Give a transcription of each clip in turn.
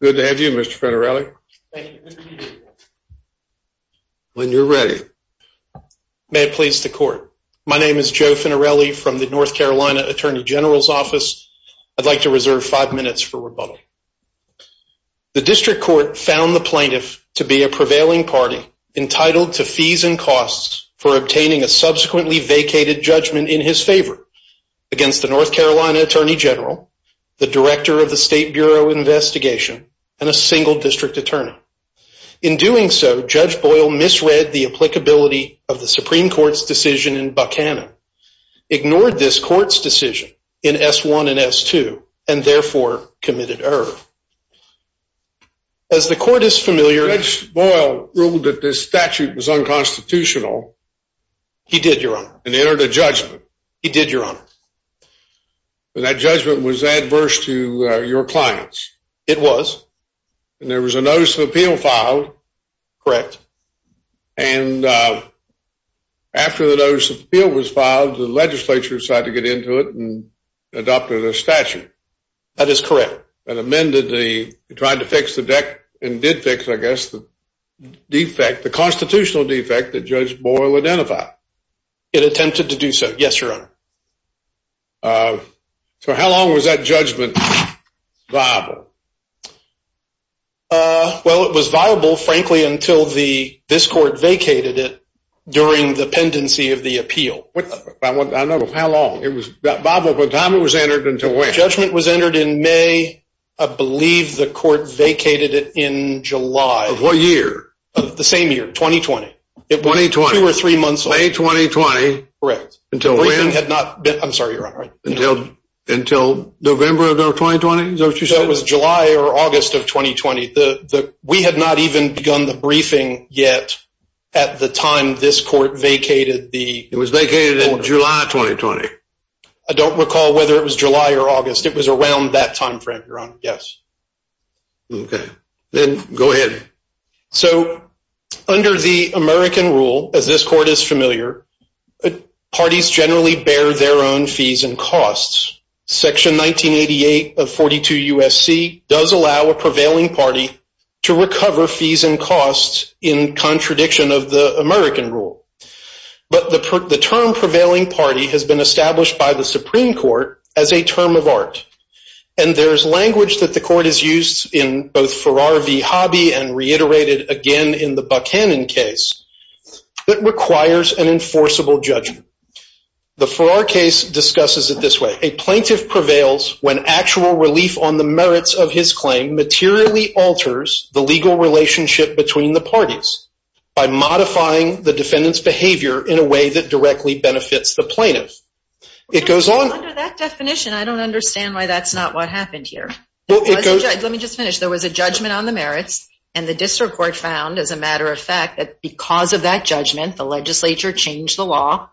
Good to have you, Mr. Finarelli. When you're ready. May it please the court. My name is Joe Finarelli from the North Carolina Attorney General's Office. I'd like to reserve five minutes for rebuttal. The district court found the plaintiff to be a prevailing party entitled to fees and costs for obtaining a subsequently vacated judgment in his favor against the North Carolina Attorney General, the and a single district attorney. In doing so, Judge Boyle misread the applicability of the Supreme Court's decision in Buckhannon, ignored this court's decision in S one and S two and therefore committed error. As the court is familiar, Boyle ruled that this statute was unconstitutional. He did your honor and entered a judgment. He did your honor. That judgment was adverse to your clients. It was. And there was a notice of appeal filed. Correct. And after the notice of appeal was filed, the legislature decided to get into it and adopted a statute. That is correct. And amended the tried to fix the deck and did fix, I guess the defect, the constitutional defect that Judge Boyle identified. It attempted to do so. Yes, your honor. Uh, so how long was that judgment Bible? Uh, well, it was viable, frankly, until the this court vacated it during the pendency of the appeal. I don't know how long it was Bible. But time it was entered into a judgment was entered in May. I believe the court vacated it in July of what year? The same year. 2020 2020 or three months. May 2020. Correct. Until we had not. I'm sorry. You're right until until November of 2020. So it was July or August of 2020. We had not even begun the briefing yet. At the time, this court vacated the it was vacated in July 2020. I don't recall whether it was July or August. It was around that time frame. You're on. Yes. Okay, then go ahead. So under the American rule, as this court is familiar, parties generally bear their own fees and costs. Section 1988 of 42 U. S. C. Does allow a prevailing party to recover fees and costs in contradiction of the American rule. But the the term prevailing party has been established by the Supreme Court as a term of art. And there's language that the court is used in both for RV hobby and reiterated again in the Buck Hannon case that requires an enforceable judgment. The for our case discusses it this way. A plaintiff prevails when actual relief on the merits of his claim materially alters the legal relationship between the parties by modifying the defendant's behavior in a way that directly benefits the plaintiff. It goes on definition. I don't understand why that's not what happened here. Let me just finish. There was a judgment on the merits, and the district court found, as a matter of fact, that because of that judgment, the Legislature changed the law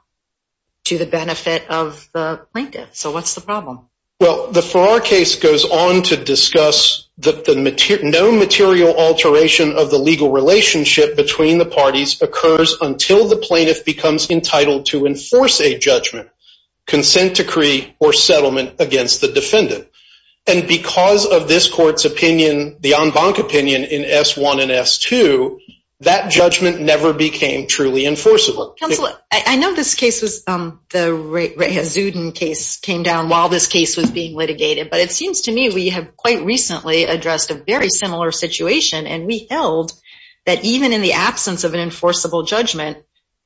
to the benefit of the plaintiff. So what's the problem? Well, the for our case goes on to discuss that the material no material alteration of the legal relationship between the parties occurs until the plaintiff becomes entitled to and because of this court's opinion, the on bonk opinion in s one and s two, that judgment never became truly enforceable. I know this case was the rate. Zuden case came down while this case was being litigated. But it seems to me we have quite recently addressed a very similar situation, and we held that even in the absence of an enforceable judgment,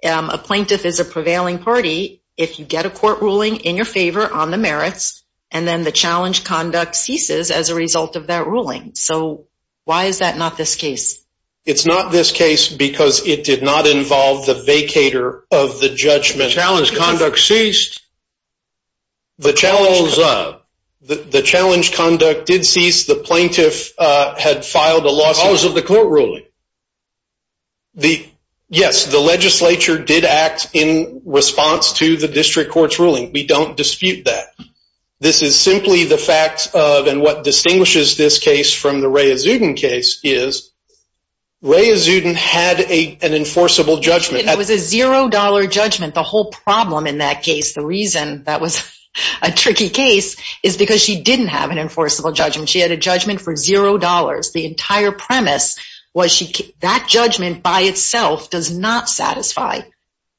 a plaintiff is a prevailing party. If you get a court ruling in your favor on the challenge, conduct ceases as a result of that ruling. So why is that not this case? It's not this case because it did not involve the vacator of the judgment challenge. Conduct ceased the channels of the challenge. Conduct did cease. The plaintiff had filed a lawsuit. The court ruling the Yes, the Legislature did act in response to the district court's This is simply the facts of and what distinguishes this case from the Ray is even case is Ray is even had a an enforceable judgment. That was a zero dollar judgment. The whole problem in that case. The reason that was a tricky case is because she didn't have an enforceable judgment. She had a judgment for zero dollars. The entire premise was she that judgment by itself does not satisfy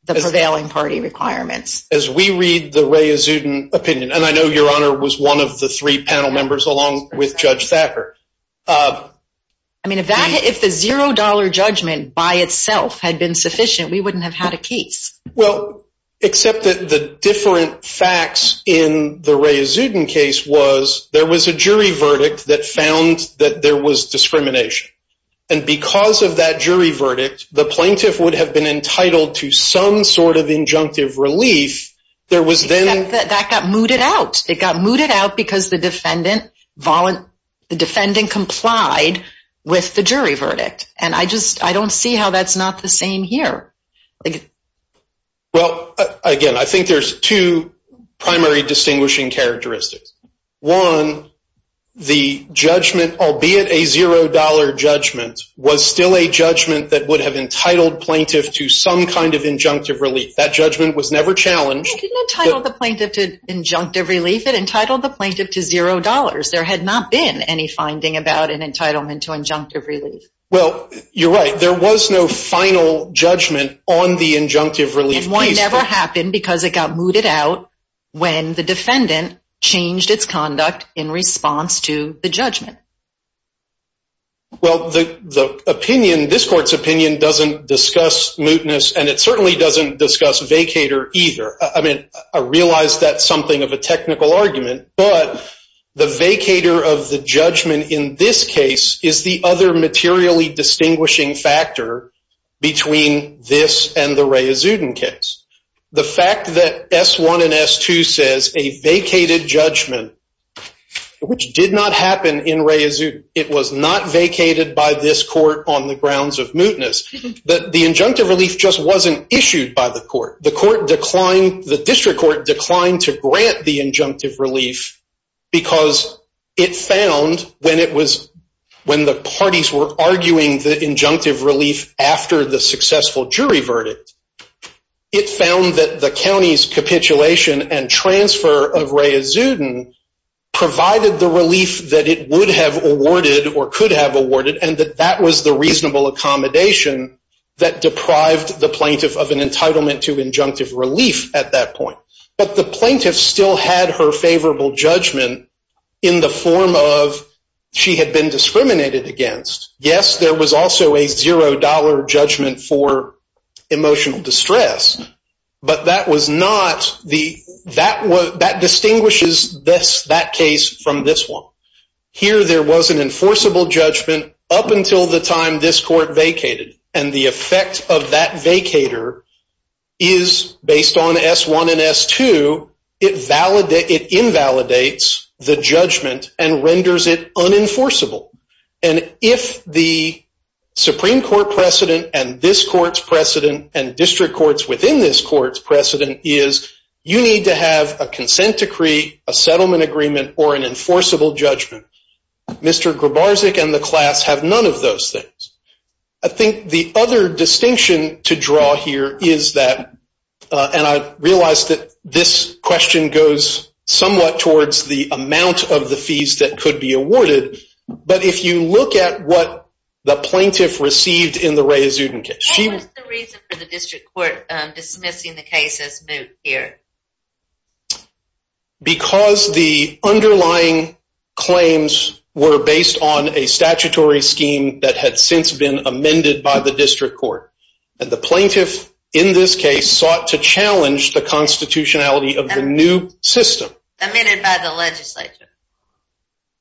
the prevailing party requirements. As we read the way opinion. And I know your honor was one of the three panel members, along with Judge Thacker. I mean, if that if the zero dollar judgment by itself had been sufficient, we wouldn't have had a case. Well, except that the different facts in the Ray is even case was there was a jury verdict that found that there was discrimination. And because of that jury verdict, the plaintiff would have been entitled to some sort of injunctive relief. There was then that got mooted out. It got mooted out because the defendant volunt the defendant complied with the jury verdict. And I just I don't see how that's not the same here. Well, again, I think there's two primary distinguishing characteristics. One, the judgment, albeit a zero dollar judgment, was still a judgment that would have entitled plaintiff to some kind of injunctive relief. That judgment was never challenged title. The plaintiff to injunctive relief it entitled the plaintiff to zero dollars. There had not been any finding about an entitlement to injunctive relief. Well, you're right. There was no final judgment on the injunctive relief. One never happened because it got mooted out when the defendant changed its conduct in response to the judgment. Well, the opinion, this court's opinion doesn't discuss mootness, and it certainly doesn't discuss vacator either. I mean, I realize that's something of a technical argument, but the vacator of the judgment in this case is the other materially distinguishing factor between this and the Ray Azudin case. The fact that S one and S two says a vacated judgment, which did not happen in Ray Azudin. It was not vacated by this court on the grounds of mootness that the injunctive relief just wasn't issued by the court. The court declined. The district court declined to grant the injunctive relief because it found when it was when the parties were arguing the injunctive relief after the successful jury verdict, it found that the county's provided the relief that it would have awarded or could have awarded and that that was the reasonable accommodation that deprived the plaintiff of an entitlement to injunctive relief at that point. But the plaintiff still had her favorable judgment in the form of she had been discriminated against. Yes, there was also a $0 judgment for emotional distress, but that was not the that was that distinguishes this that case from this one. Here there was an enforceable judgment up until the time this court vacated and the effect of that vacator is based on S one and S two. It invalidates the judgment and renders it unenforceable. And if the Supreme Court precedent and this court's precedent is, you need to have a consent decree, a settlement agreement or an enforceable judgment. Mr. Grubar Zek and the class have none of those things. I think the other distinction to draw here is that, uh, and I realized that this question goes somewhat towards the amount of the fees that could be awarded. But if you look at what the plaintiff received in the basis here because the underlying claims were based on a statutory scheme that had since been amended by the district court. And the plaintiff in this case sought to challenge the constitutionality of the new system amended by the Legislature.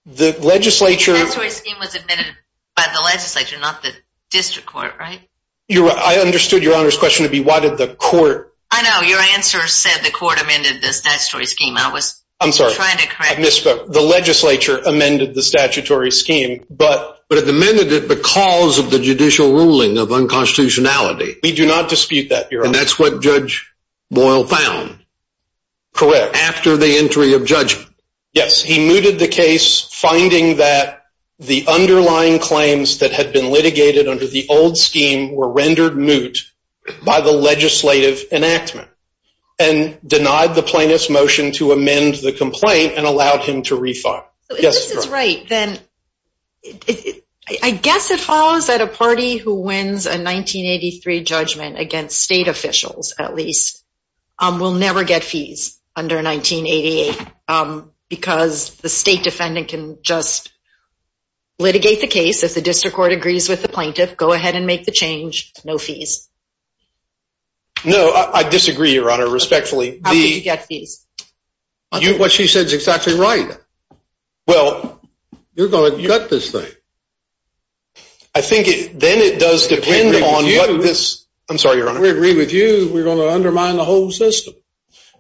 The Legislature was admitted by the Legislature, not the district court, right? You're right. I understood your honor's question to be. Why did the court? I know your answer said the court amended the statutory scheme. I was I'm sorry. I misspoke. The Legislature amended the statutory scheme, but but at the minute it because of the judicial ruling of unconstitutionality. We do not dispute that. You're on. That's what Judge Boyle found correct after the entry of judgment. Yes, he mooted the case, finding that the underlying claims that had been litigated under the old scheme were rendered moot by the legislative enactment and denied the plaintiff's motion to amend the complaint and allowed him to refile. Yes, that's right. Then I guess it follows that a party who wins a 1983 judgment against state officials at least will never get fees under 1988 because the state defendant can just litigate the case. If the district court agrees with the plaintiff, go ahead and make the change. No fees. No, I disagree, Your Honor. Respectfully, the get these what she said is exactly right. Well, you're going to cut this thing. I think then it does depend on this. I'm sorry, Your Honor. We agree with you. We're gonna undermine the whole system.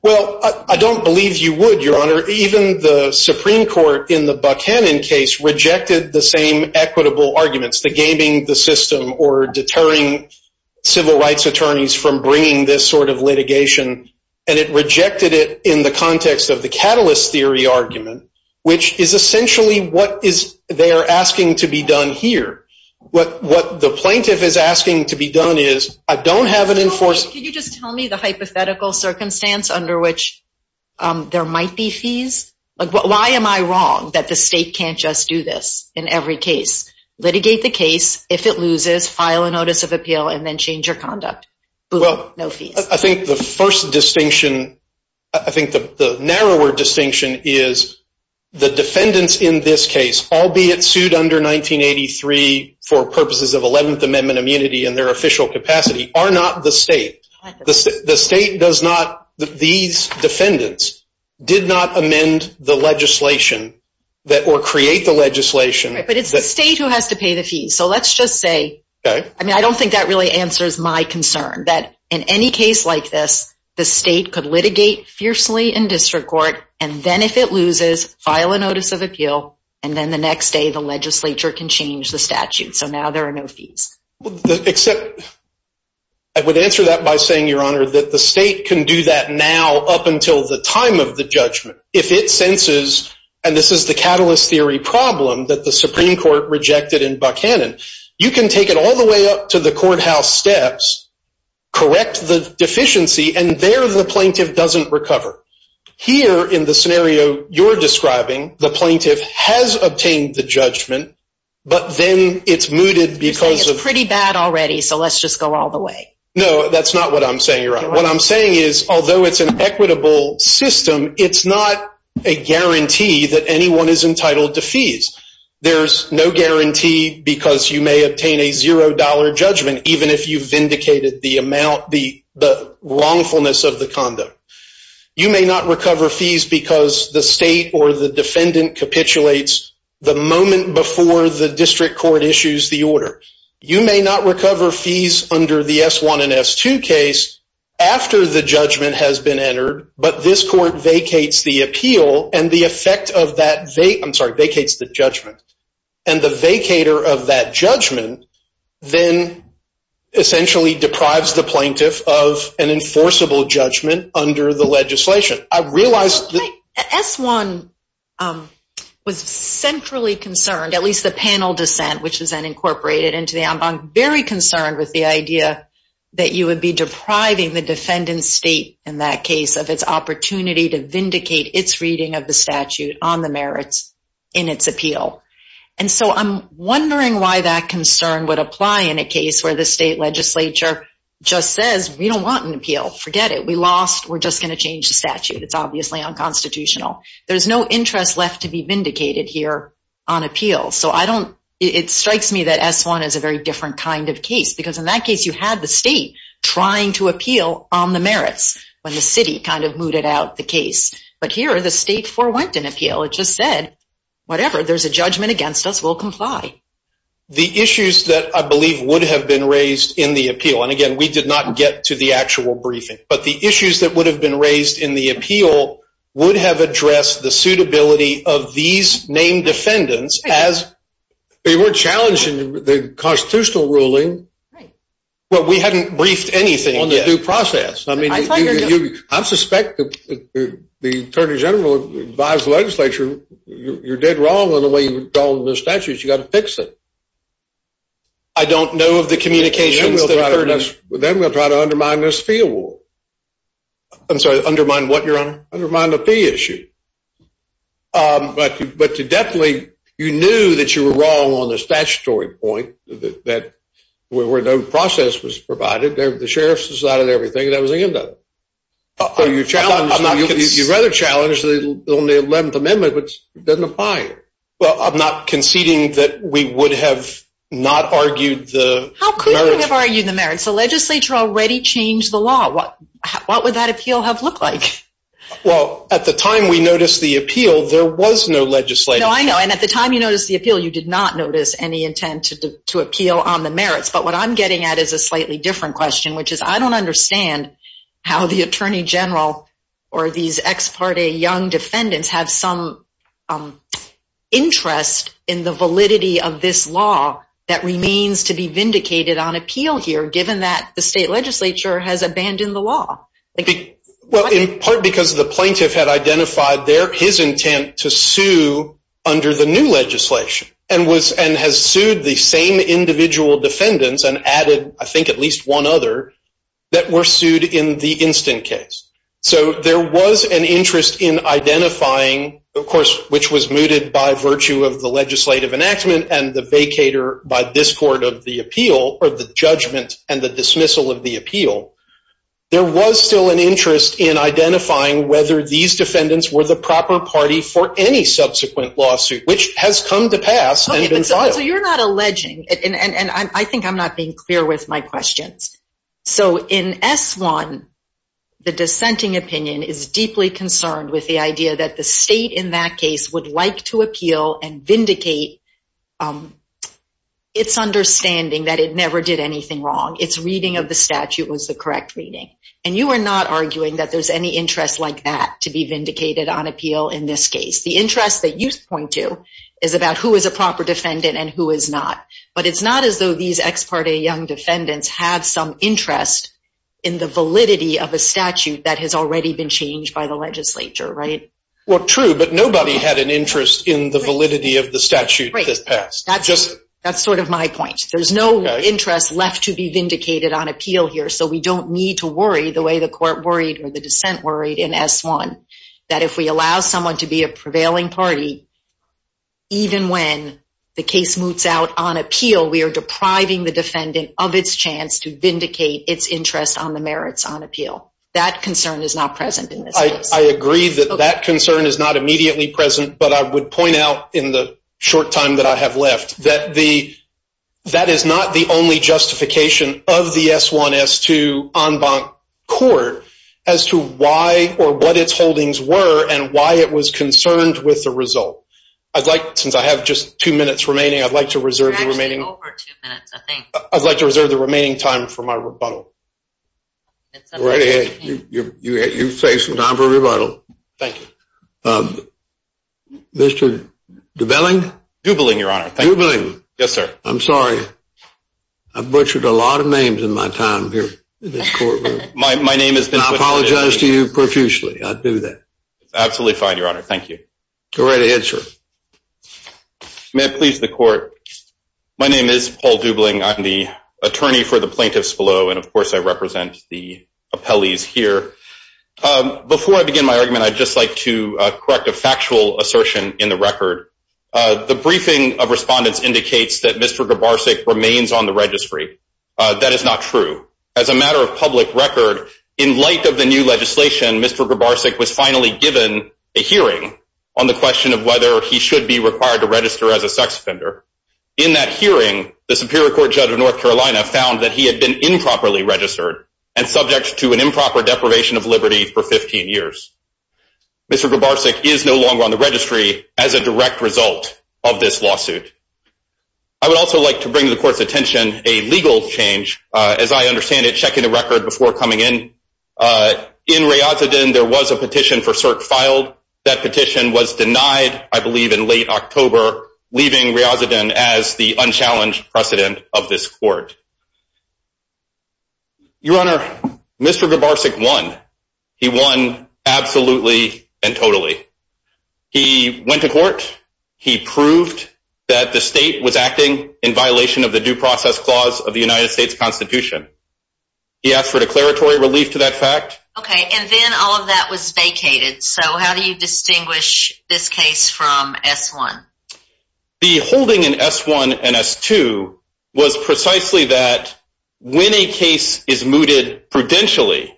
Well, I don't believe you would, Your Honor. Even the Supreme Court in the Buchanan case rejected the same equitable arguments, the gaming the system or deterring civil rights attorneys from bringing this sort of litigation, and it rejected it in the context of the catalyst theory argument, which is essentially what is they're asking to be done here. What the plaintiff is asking to be done is I don't have an enforcement. Can you just tell me the hypothetical circumstance under which there might be fees? Why am I wrong that the in every case litigate the case? If it loses, file a notice of appeal and then change your conduct. Well, I think the first distinction I think the narrower distinction is the defendants in this case, albeit sued under 1983 for purposes of 11th Amendment immunity in their official capacity are not the state. The state does not. These defendants did not amend the legislation that or create the legislation. But it's the state who has to pay the fees. So let's just say I mean, I don't think that really answers my concern that in any case like this, the state could litigate fiercely in district court. And then if it loses, file a notice of appeal. And then the next day, the legislature can change the statute. So now there are no fees except I would answer that by saying, Your judgment. If it senses, and this is the catalyst theory problem that the Supreme Court rejected in Buchanan, you can take it all the way up to the courthouse steps, correct the deficiency, and there the plaintiff doesn't recover here in the scenario you're describing. The plaintiff has obtained the judgment, but then it's mooted because it's pretty bad already. So let's just go all the way. No, that's not what I'm saying. You're right. What I'm saying is, although it's an equitable system, it's not a guarantee that anyone is entitled to fees. There's no guarantee because you may obtain a zero dollar judgment, even if you've vindicated the amount, the wrongfulness of the condo. You may not recover fees because the state or the defendant capitulates the moment before the district court issues the order. You may not but this court vacates the appeal and the effect of that, I'm sorry, vacates the judgment, and the vacator of that judgment then essentially deprives the plaintiff of an enforceable judgment under the legislation. I realized that S1 was centrally concerned, at least the panel dissent, which is then incorporated into the en banc, very concerned with the idea that you would be depriving the defendant's state in that case of its opportunity to vindicate its reading of the statute on the merits in its appeal. And so I'm wondering why that concern would apply in a case where the state legislature just says, we don't want an appeal. Forget it. We lost. We're just going to change the statute. It's obviously unconstitutional. There's no interest left to be vindicated here on appeal. So I don't, it strikes me that S1 is a very different kind of case because in that case, you had the state trying to appeal on the merits when the city kind of mooted out the case. But here, the state forewent an appeal. It just said, whatever. There's a judgment against us. We'll comply. The issues that I believe would have been raised in the appeal, and again, we did not get to the actual briefing, but the issues that would have been raised in the appeal would have addressed the suitability of these named defendants as they were challenging the constitutional ruling. Well, we hadn't briefed anything on the due process. I mean, I suspect the Attorney General advised the legislature, you're dead wrong on the way you've gone with the statutes. You've got to fix it. I don't know of the communications. Then we'll try to undermine this fee award. I'm sorry, undermine what, Your Honor? Undermine the fee issue. But definitely, you knew that you were wrong on the statutory point that where no process was decided and everything, that was the end of it. You'd rather challenge the only 11th Amendment, which doesn't apply. Well, I'm not conceding that we would have not argued the merits. How could we have argued the merits? The legislature already changed the law. What would that appeal have looked like? Well, at the time we noticed the appeal, there was no legislative. No, I know. And at the time you noticed the appeal, you did not notice any intent to appeal on the merits. But what I'm getting at is a slightly different question, which is, I don't understand how the Attorney General or these ex parte young defendants have some interest in the validity of this law that remains to be vindicated on appeal here, given that the state legislature has abandoned the law. Well, in part because the plaintiff had identified his intent to sue under the new legislation and has sued the same individual defendants and added, I think, at least one other that were sued in the instant case. So there was an interest in identifying, of course, which was mooted by virtue of the legislative enactment and the vacator by this court of the appeal or the judgment and the dismissal of the appeal. There was still an interest in identifying whether these defendants were the proper party for any subsequent lawsuit, which has come to pass and been filed. So you're not alleging, and I think I'm not being clear with my questions. So in S-1, the dissenting opinion is deeply concerned with the idea that the state in that case would like to appeal and vindicate its understanding that it never did anything wrong. Its reading of the statute was the correct reading. And you are not arguing that there's any interest like that to be vindicated on appeal in this case. The interest that you point to is about who is a proper defendant and who is not. But it's not as though these ex parte young defendants have some interest in the validity of a statute that has already been changed by the legislature, right? Well, true, but nobody had an interest in the validity of the statute that passed. That's sort of my point. There's no interest left to be vindicated on appeal here. So we don't need to worry the way the court worried or the dissent worried in S-1, that if we allow someone to be a prevailing party, even when the case moots out on appeal, we are depriving the state of its chance to vindicate its interest on the merits on appeal. That concern is not present in this case. I agree that that concern is not immediately present, but I would point out in the short time that I have left, that is not the only justification of the S-1, S-2 en banc court as to why or what its holdings were and why it was concerned with the result. I'd like, since I have just two minutes remaining, I'd like to reserve the remaining time for my rebuttal. You have some time for rebuttal. Thank you. Mr. Dubelling? Dubelling, your honor. Yes, sir. I'm sorry. I butchered a lot of names in my time here. I apologize to you profusely. I do that. Absolutely fine, your honor. Thank you. Go right ahead, sir. May it please the court. My name is Paul Dubelling. I'm the attorney for the plaintiffs below, and of course, I represent the appellees here. Before I begin my argument, I'd just like to correct a factual assertion in the record. The briefing of respondents indicates that Mr. Gabarsik remains on the registry. That is not true. As a matter of public record, in light of the new legislation, Mr. Gabarsik was finally given a hearing on the question of whether he should be required to register as a sex offender. In that hearing, the Superior Court Judge of North Carolina found that he had been improperly registered and subject to an improper deprivation of liberty for 15 years. Mr. Gabarsik is no longer on the registry as a direct result of this lawsuit. I would also like to bring to the court's attention a legal change. As I understand it, check in the record before coming in. In Riyazuddin, there was a petition for cert filed. That petition was denied, I believe, in late October, leaving Riyazuddin as the unchallenged precedent of this court. Your Honor, Mr. Gabarsik won. He won absolutely and totally. He went to court. He proved that the state was acting in violation of the due process clause of the United States Constitution. He asked for declaratory relief to that fact. Okay, and then all of that was vacated. So how do you distinguish this case from S-1? The holding in S-1 and S-2 was precisely that when a case is mooted prudentially,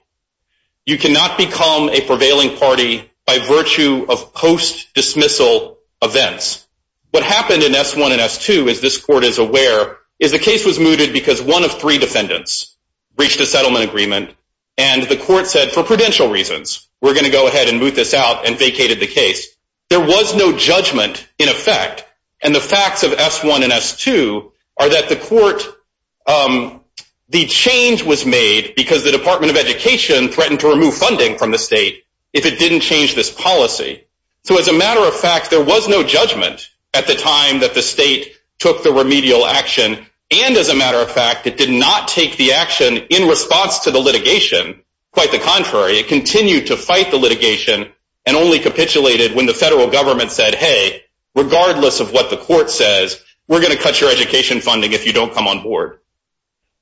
you cannot become a prevailing party by virtue of post-dismissal events. What happened in S-1 and S-2, as this court is aware, is the case was reached a settlement agreement and the court said for prudential reasons, we're going to go ahead and move this out and vacated the case. There was no judgment in effect. And the facts of S-1 and S-2 are that the court, the change was made because the Department of Education threatened to remove funding from the state if it didn't change this policy. So as a matter of fact, there was no judgment at the time that the state took the remedial action. And as a matter of fact, it did not take the action in response to the litigation. Quite the contrary, it continued to fight the litigation and only capitulated when the federal government said, hey, regardless of what the court says, we're going to cut your education funding if you don't come on board.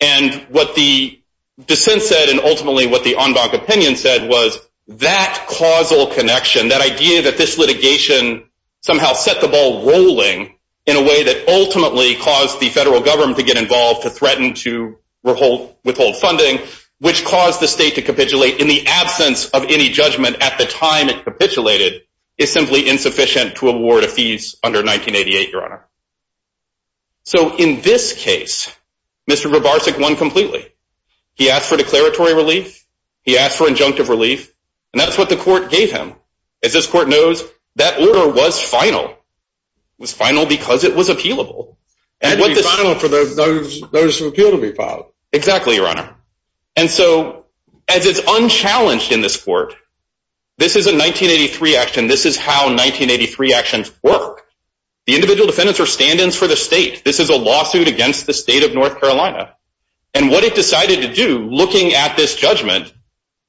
And what the dissent said and ultimately what the en banc opinion said was that causal connection, that idea that this litigation somehow set the ball rolling in a way that ultimately caused the federal government to get involved, to threaten to withhold funding, which caused the state to capitulate in the absence of any judgment at the time it capitulated, is simply insufficient to award a fees under 1988, Your Honor. So in this case, Mr. Babarczyk won completely. He asked for declaratory relief. He asked for injunctive relief. And that's what the court gave him. As this court knows, that order was final. It was final because it was appealable. It had to be final for the notice of appeal to be filed. Exactly, Your Honor. And so as it's unchallenged in this court, this is a 1983 action. This is how 1983 actions work. The individual defendants are stand-ins for the state. This is a lawsuit against the state of North Carolina. And what it decided to do, looking at this judgment,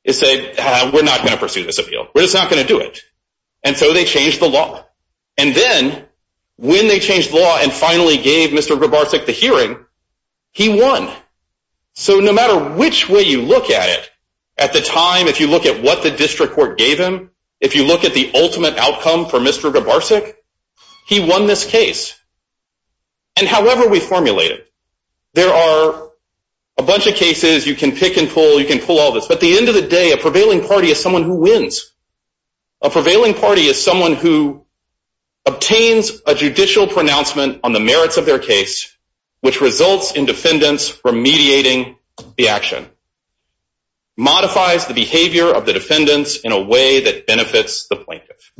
is say, we're not going to pursue this appeal. We're just not going to do it. And so they changed the law. And then when they changed the law and finally gave Mr. Babarczyk the hearing, he won. So no matter which way you look at it, at the time, if you look at what the district court gave him, if you look at the ultimate outcome for Mr. Babarczyk, he won this case. And however we formulate it, there are a bunch of cases you can pick and pull, you can pull all this. But at the end of the day, a prevailing party is someone who wins. A prevailing party is someone who obtains a judicial pronouncement on the merits of their case, which results in defendants remediating the action, modifies the behavior of the defendants in a way that benefits the plaintiff.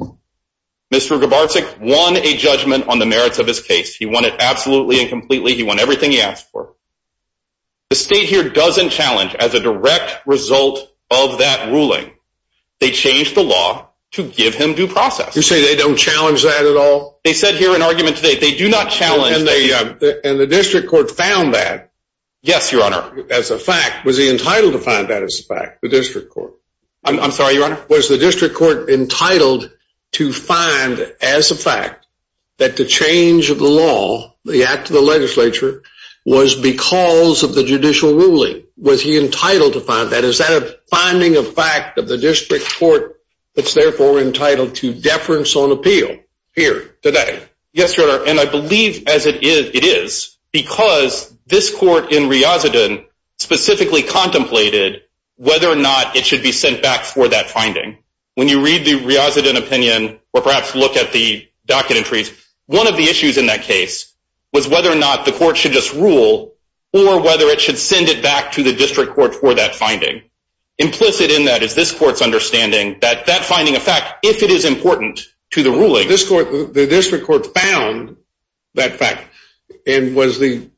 Mr. Babarczyk won a judgment on the merits of his case. He won it absolutely and completely. He won everything he asked for. The state here doesn't challenge as a direct result of that ruling. They changed the law to give him due process. You say they don't challenge that at all? They said here in argument today, they do not challenge. And the district court found that? Yes, your honor. As a fact, was he entitled to find that as a fact, the district court? I'm sorry, your honor? Was the district court entitled to find as a fact that the change of the law, the act of the legislature, was because of the judicial ruling? Was he entitled to find that? Is that a finding of fact of the district court that's therefore entitled to deference on appeal here today? Yes, your honor. And I believe as it is, because this court in Riazudin specifically contemplated whether or not it should be sent back for that finding. When you read the Riazudin opinion or perhaps look at the docket entries, one of the issues in that case was whether or not the court should just rule or whether it should send it back to the district court for that finding. Implicit in that is this court's understanding that that finding of fact, if it is important to the ruling. The district court found that fact. And was the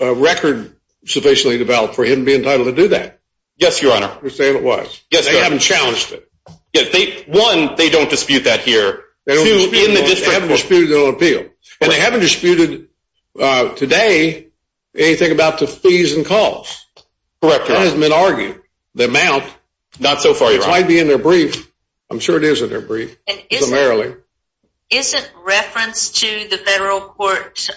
record sufficiently developed for him to be entitled to do that? Yes, your honor. You're saying it was? Yes, sir. They haven't challenged it. One, they don't dispute that here. Two, in the district court. They haven't disputed it on appeal. And they haven't disputed today anything about the fees and costs. Correct, your honor. That hasn't been argued. The amount. Not so far, your honor. It might be in their brief. I'm sure it is in their brief. It is. Primarily. Isn't reference to the federal court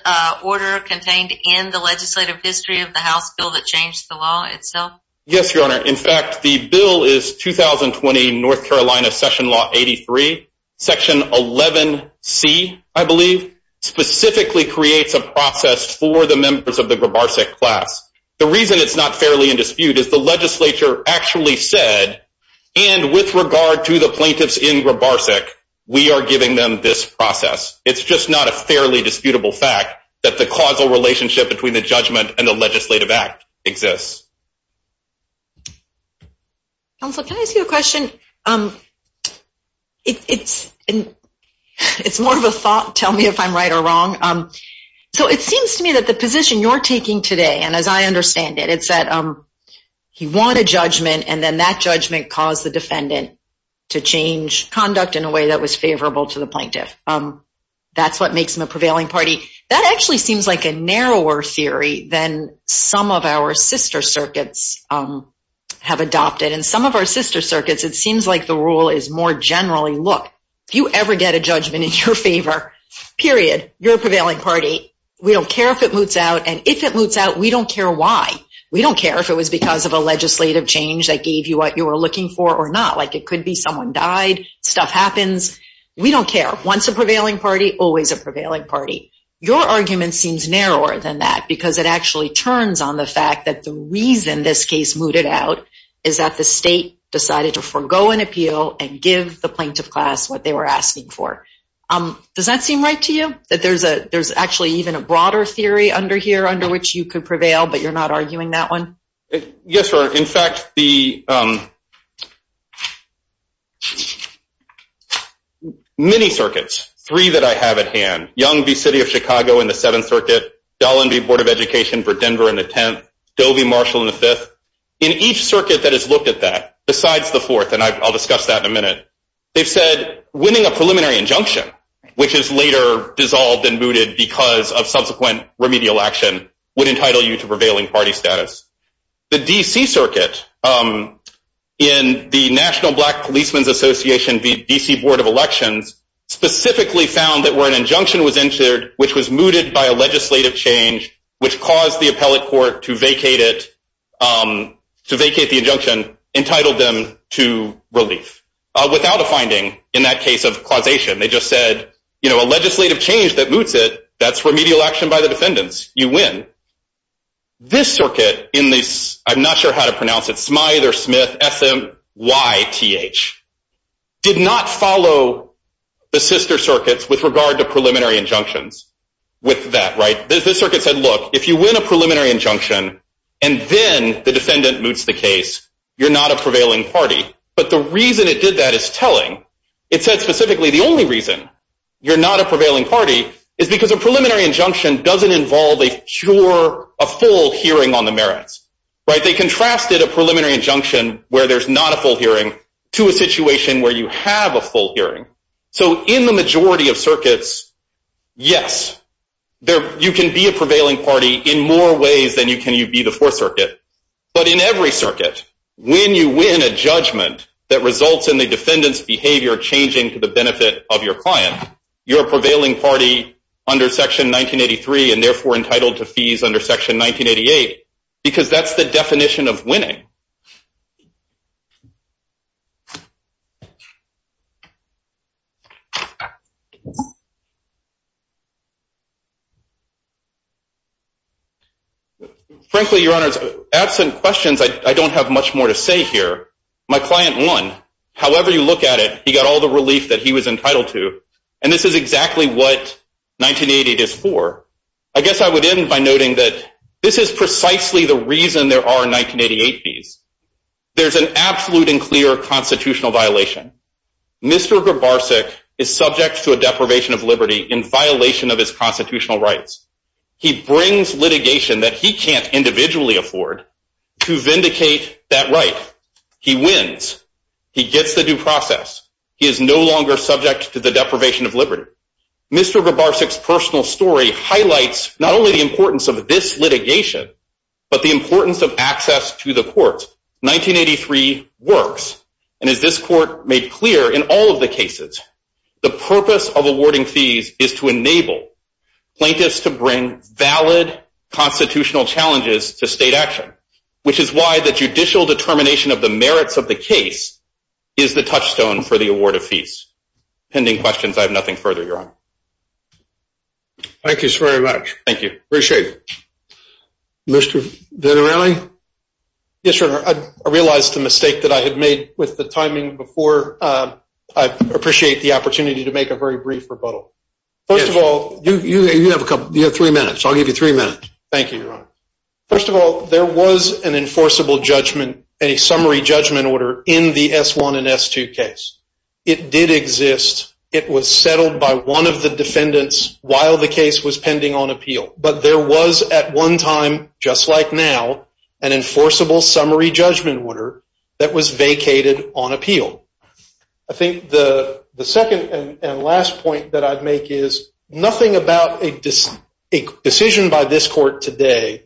order contained in the legislative history of the House bill that changed the law itself? Yes, your honor. In fact, the bill is 2020 North Carolina Session Law 83. Section 11C, I believe, specifically creates a process for the members of the Grabarsek class. The reason it's not fairly in dispute is the legislature actually said, and with regard to the plaintiffs in Grabarsek, we are giving them this process. It's just not a fairly disputable fact that the causal relationship between the judgment and the legislative act exists. Counselor, can I ask you a question? It's more of a thought. Tell me if I'm right or wrong. So it seems to me that the position you're taking today, and as I understand it, it's that he won a judgment and then that judgment caused the defendant to change conduct in a way that was favorable to the plaintiff. That's what makes him a prevailing party. That actually seems like a narrower theory than some of our sister circuits have adopted. In some of our sister circuits, it seems like the rule is more generally, look, if you ever get a judgment in your favor, period, you're a prevailing party. We don't care if it moots out. And if it moots out, we don't care why. We don't care if it was because of a legislative change that gave you what you were looking for or not. Like it could be someone died, stuff happens. We don't care. Once a prevailing party, always a prevailing party. Your argument seems narrower than that because it actually turns on the fact that the reason this case mooted out is that the state decided to forego an appeal and give the plaintiff class what they were asking for. Does that seem right to you, that there's actually even a broader theory under here under which you could prevail, but you're not arguing that one? Yes, Your Honor. In fact, the many circuits, three that I have at hand, Young v. City of Chicago in the Seventh Circuit, Dolan v. Board of Education for Denver in the Tenth, Doe v. Marshall in the Fifth, in each circuit that has looked at that, besides the Fourth, and I'll discuss that in a minute, they've said winning a preliminary injunction, which is later dissolved and mooted because of subsequent remedial action, would entitle you to prevailing party status. The D.C. Circuit, in the National Black Policeman's Association v. D.C. Board of Elections, specifically found that where an injunction was entered which was mooted by a legislative change which caused the appellate court to vacate it, to vacate the injunction, entitled them to relief. Without a finding in that case of causation. They just said, you know, a legislative change that moots it, that's remedial action by the defendants. You win. This circuit in the, I'm not sure how to pronounce it, Smyther-Smith, S-M-Y-T-H, did not follow the sister circuits with regard to preliminary injunctions with that, right? This circuit said, look, if you win a preliminary injunction and then the defendant moots the case, you're not a prevailing party. But the reason it did that is telling. It said specifically the only reason you're not a prevailing party is because a preliminary injunction doesn't involve a pure, a full hearing on the merits, right? They contrasted a preliminary injunction where there's not a full hearing to a situation where you have a full hearing. So in the majority of circuits, yes, you can be a prevailing party in more ways than you can be the fourth circuit. But in every circuit, when you win a judgment that results in the defendant's behavior changing to the benefit of your client, you're a prevailing party under Section 1983 and therefore entitled to fees under Section 1988 because that's the definition of winning. Yes. Frankly, Your Honor, absent questions, I don't have much more to say here. My client won. However you look at it, he got all the relief that he was entitled to. And this is exactly what 1988 is for. I guess I would end by noting that this is precisely the reason there are 1988 fees. There's an absolute and clear constitutional violation. Mr. Grabarczyk is subject to a deprivation of liberty in violation of his constitutional rights. He brings litigation that he can't individually afford to vindicate that right. He wins. He gets the due process. He is no longer subject to the deprivation of liberty. Mr. Grabarczyk's personal story highlights not only the importance of this litigation, but the importance of access to the courts. 1983 works. And as this court made clear in all of the cases, the purpose of awarding fees is to enable plaintiffs to bring valid constitutional challenges to state action, which is why the judicial determination of the merits of the case is the touchstone for the award of fees. Pending questions, I have nothing further, Your Honor. Thank you so very much. Thank you. Appreciate it. Mr. Vitarelli? Yes, Your Honor. I realized the mistake that I had made with the timing before. I appreciate the opportunity to make a very brief rebuttal. First of all... You have three minutes. I'll give you three minutes. Thank you, Your Honor. First of all, there was an enforceable judgment, a summary judgment order in the S-1 and S-2 case. It did exist. It was settled by one of the defendants while the case was pending on appeal. But there was at one time, just like now, an enforceable summary judgment order that was vacated on appeal. I think the second and last point that I'd make is nothing about a decision by this court today,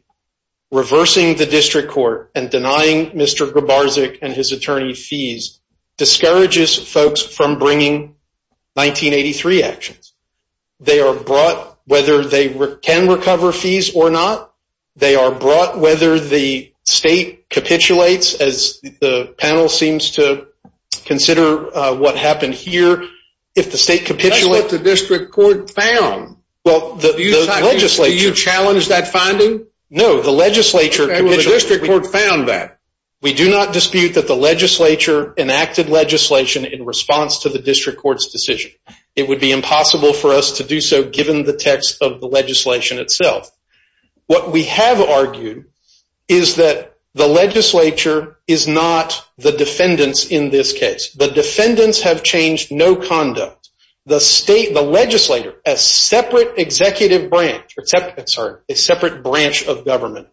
reversing the district court and denying Mr. Grabarczyk and his attorney fees, discourages folks from bringing 1983 actions. They are brought whether they can recover fees or not. They are brought whether the state capitulates, as the panel seems to consider what happened here. If the state capitulates... That's what the district court found. Well, the legislature... Do you challenge that finding? No, the legislature... The district court found that. We do not dispute that the legislature enacted legislation in response to the district court's decision. It would be impossible for us to do so given the text of the legislation itself. What we have argued is that the legislature is not the defendants in this case. The defendants have changed no conduct. The state, the legislator, a separate executive branch, a separate branch of government,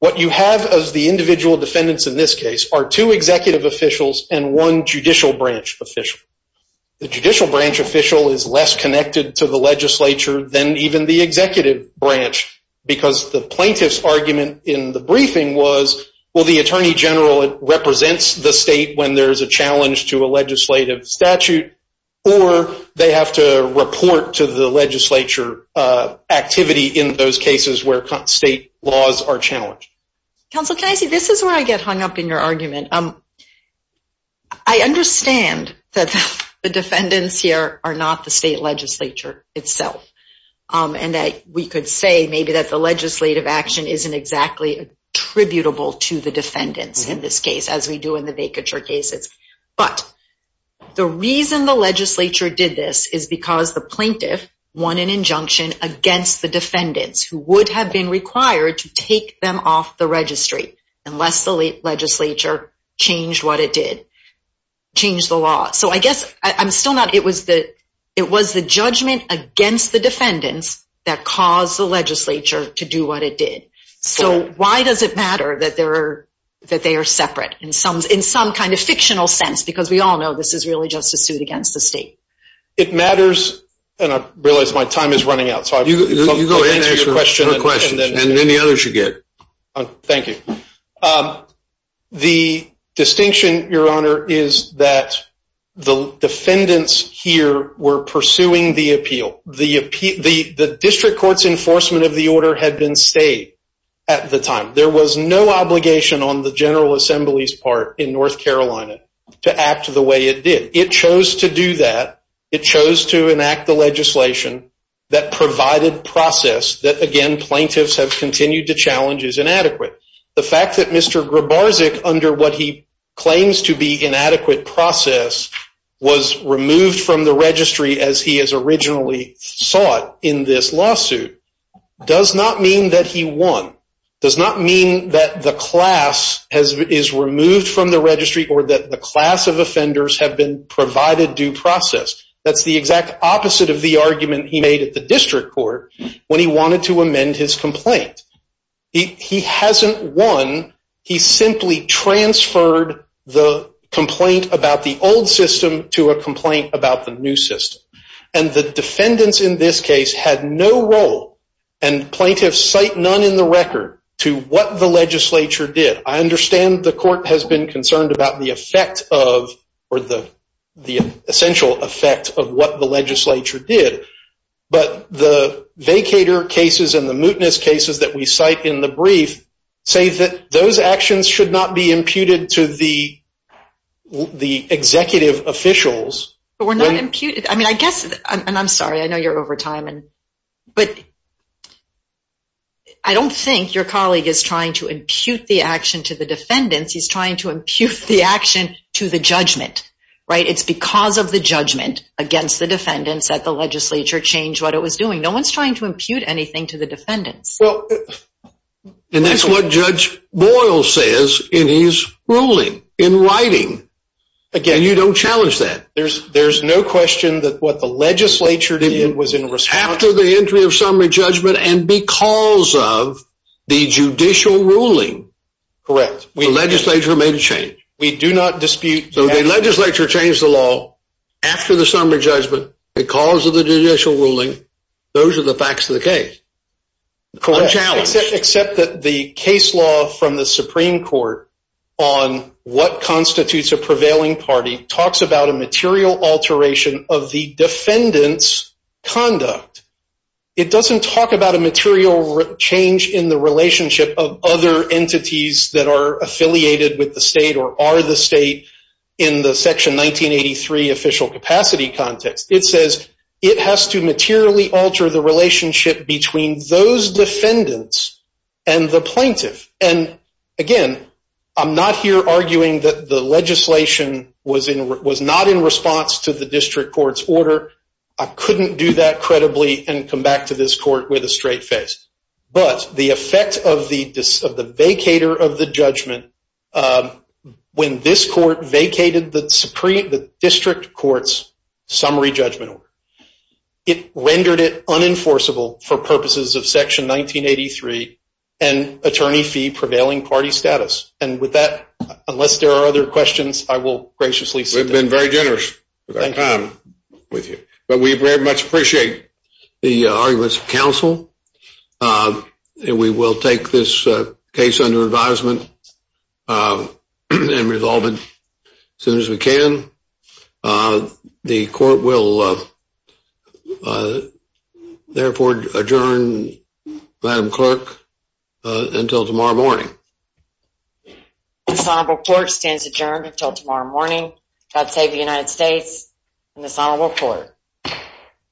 what you have as the individual defendants in this case are two executive officials and one judicial branch official. The judicial branch official is less connected to the legislature than even the executive branch because the plaintiff's argument in the briefing was, well, the attorney general represents the state when there's a challenge to a legislative statute or they have to report to the legislature activity in those cases where state laws are challenged. Counsel, can I say, this is where I get hung up in your argument. I understand that the defendants here are not the state legislature itself and that we could say maybe that the legislative action isn't exactly attributable to the defendants in this case as we do in the vacature cases. But the reason the legislature did this is because the plaintiff won an injunction against the defendants who would have been required to take them off the registry unless the legislature changed what it did, changed the law. So I guess, I'm still not, it was the judgment against the defendants that caused the legislature to do what it did. So why does it matter that they are separate in some kind of fictional sense? Because we all know this is really just a suit against the state. It matters, and I realize my time is running out. So you go ahead and answer your question. And then the others you get. Thank you. The distinction, Your Honor, is that the defendants here were pursuing the appeal. The district court's enforcement of the order had been stayed at the time. There was no obligation on the General Assembly's part in North Carolina to act the way it did. It chose to do that. It chose to enact the legislation that provided process that, again, plaintiffs have continued to challenge is inadequate. The fact that Mr. Grabarczyk, under what he claims to be inadequate process, was removed from the registry as he has originally sought in this lawsuit does not mean that he won, does not mean that the class is removed from the registry or that the class of offenders have been provided due process. That's the exact opposite of the argument he made at the district court when he wanted to amend his complaint. He hasn't won. He simply transferred the complaint about the old system to a complaint about the new system. And the defendants in this case had no role. And plaintiffs cite none in the record to what the legislature did. I understand the court has been concerned about the effect of or the essential effect of what the legislature did. But the vacator cases and the mootness cases that we cite in the brief say that those actions should not be imputed to the executive officials. But we're not imputed. I mean, I guess, and I'm sorry. I know you're over time. But I don't think your colleague is trying to impute the action to the defendants. He's trying to impute the action to the judgment, right? It's because of the judgment against the defendants that the legislature changed what it was doing. No one's trying to impute anything to the defendants. And that's what Judge Boyle says in his ruling, in writing. Again, you don't challenge that. There's no question that what the legislature did was in response. After the entry of summary judgment and because of the judicial ruling, the legislature made a change. We do not dispute. So the legislature changed the law after the summary judgment because of the judicial ruling. Those are the facts of the case. Correct. Unchallenged. Except that the case law from the Supreme Court on what constitutes a prevailing party talks about a material alteration of the defendant's conduct. It doesn't talk about a material change in the relationship of other entities that are affiliated with the state or are the state in the section 1983 official capacity context. It says it has to materially alter the relationship between those defendants and the plaintiff. And again, I'm not here arguing that the legislation was not in response to the district court's order. I couldn't do that credibly and come back to this court with a straight face. But the effect of the vacator of the judgment, when this court vacated the district court's summary judgment order, it rendered it unenforceable for purposes of section 1983 and attorney fee prevailing party status. And with that, unless there are other questions, I will graciously sit down. We've been very generous with our time with you. But we very much appreciate the arguments of counsel. And we will take this case under advisement and resolve it as soon as we can. The court will therefore adjourn, Madam Clerk, until tomorrow morning. This honorable court stands adjourned until tomorrow morning. God save the United States and this honorable court.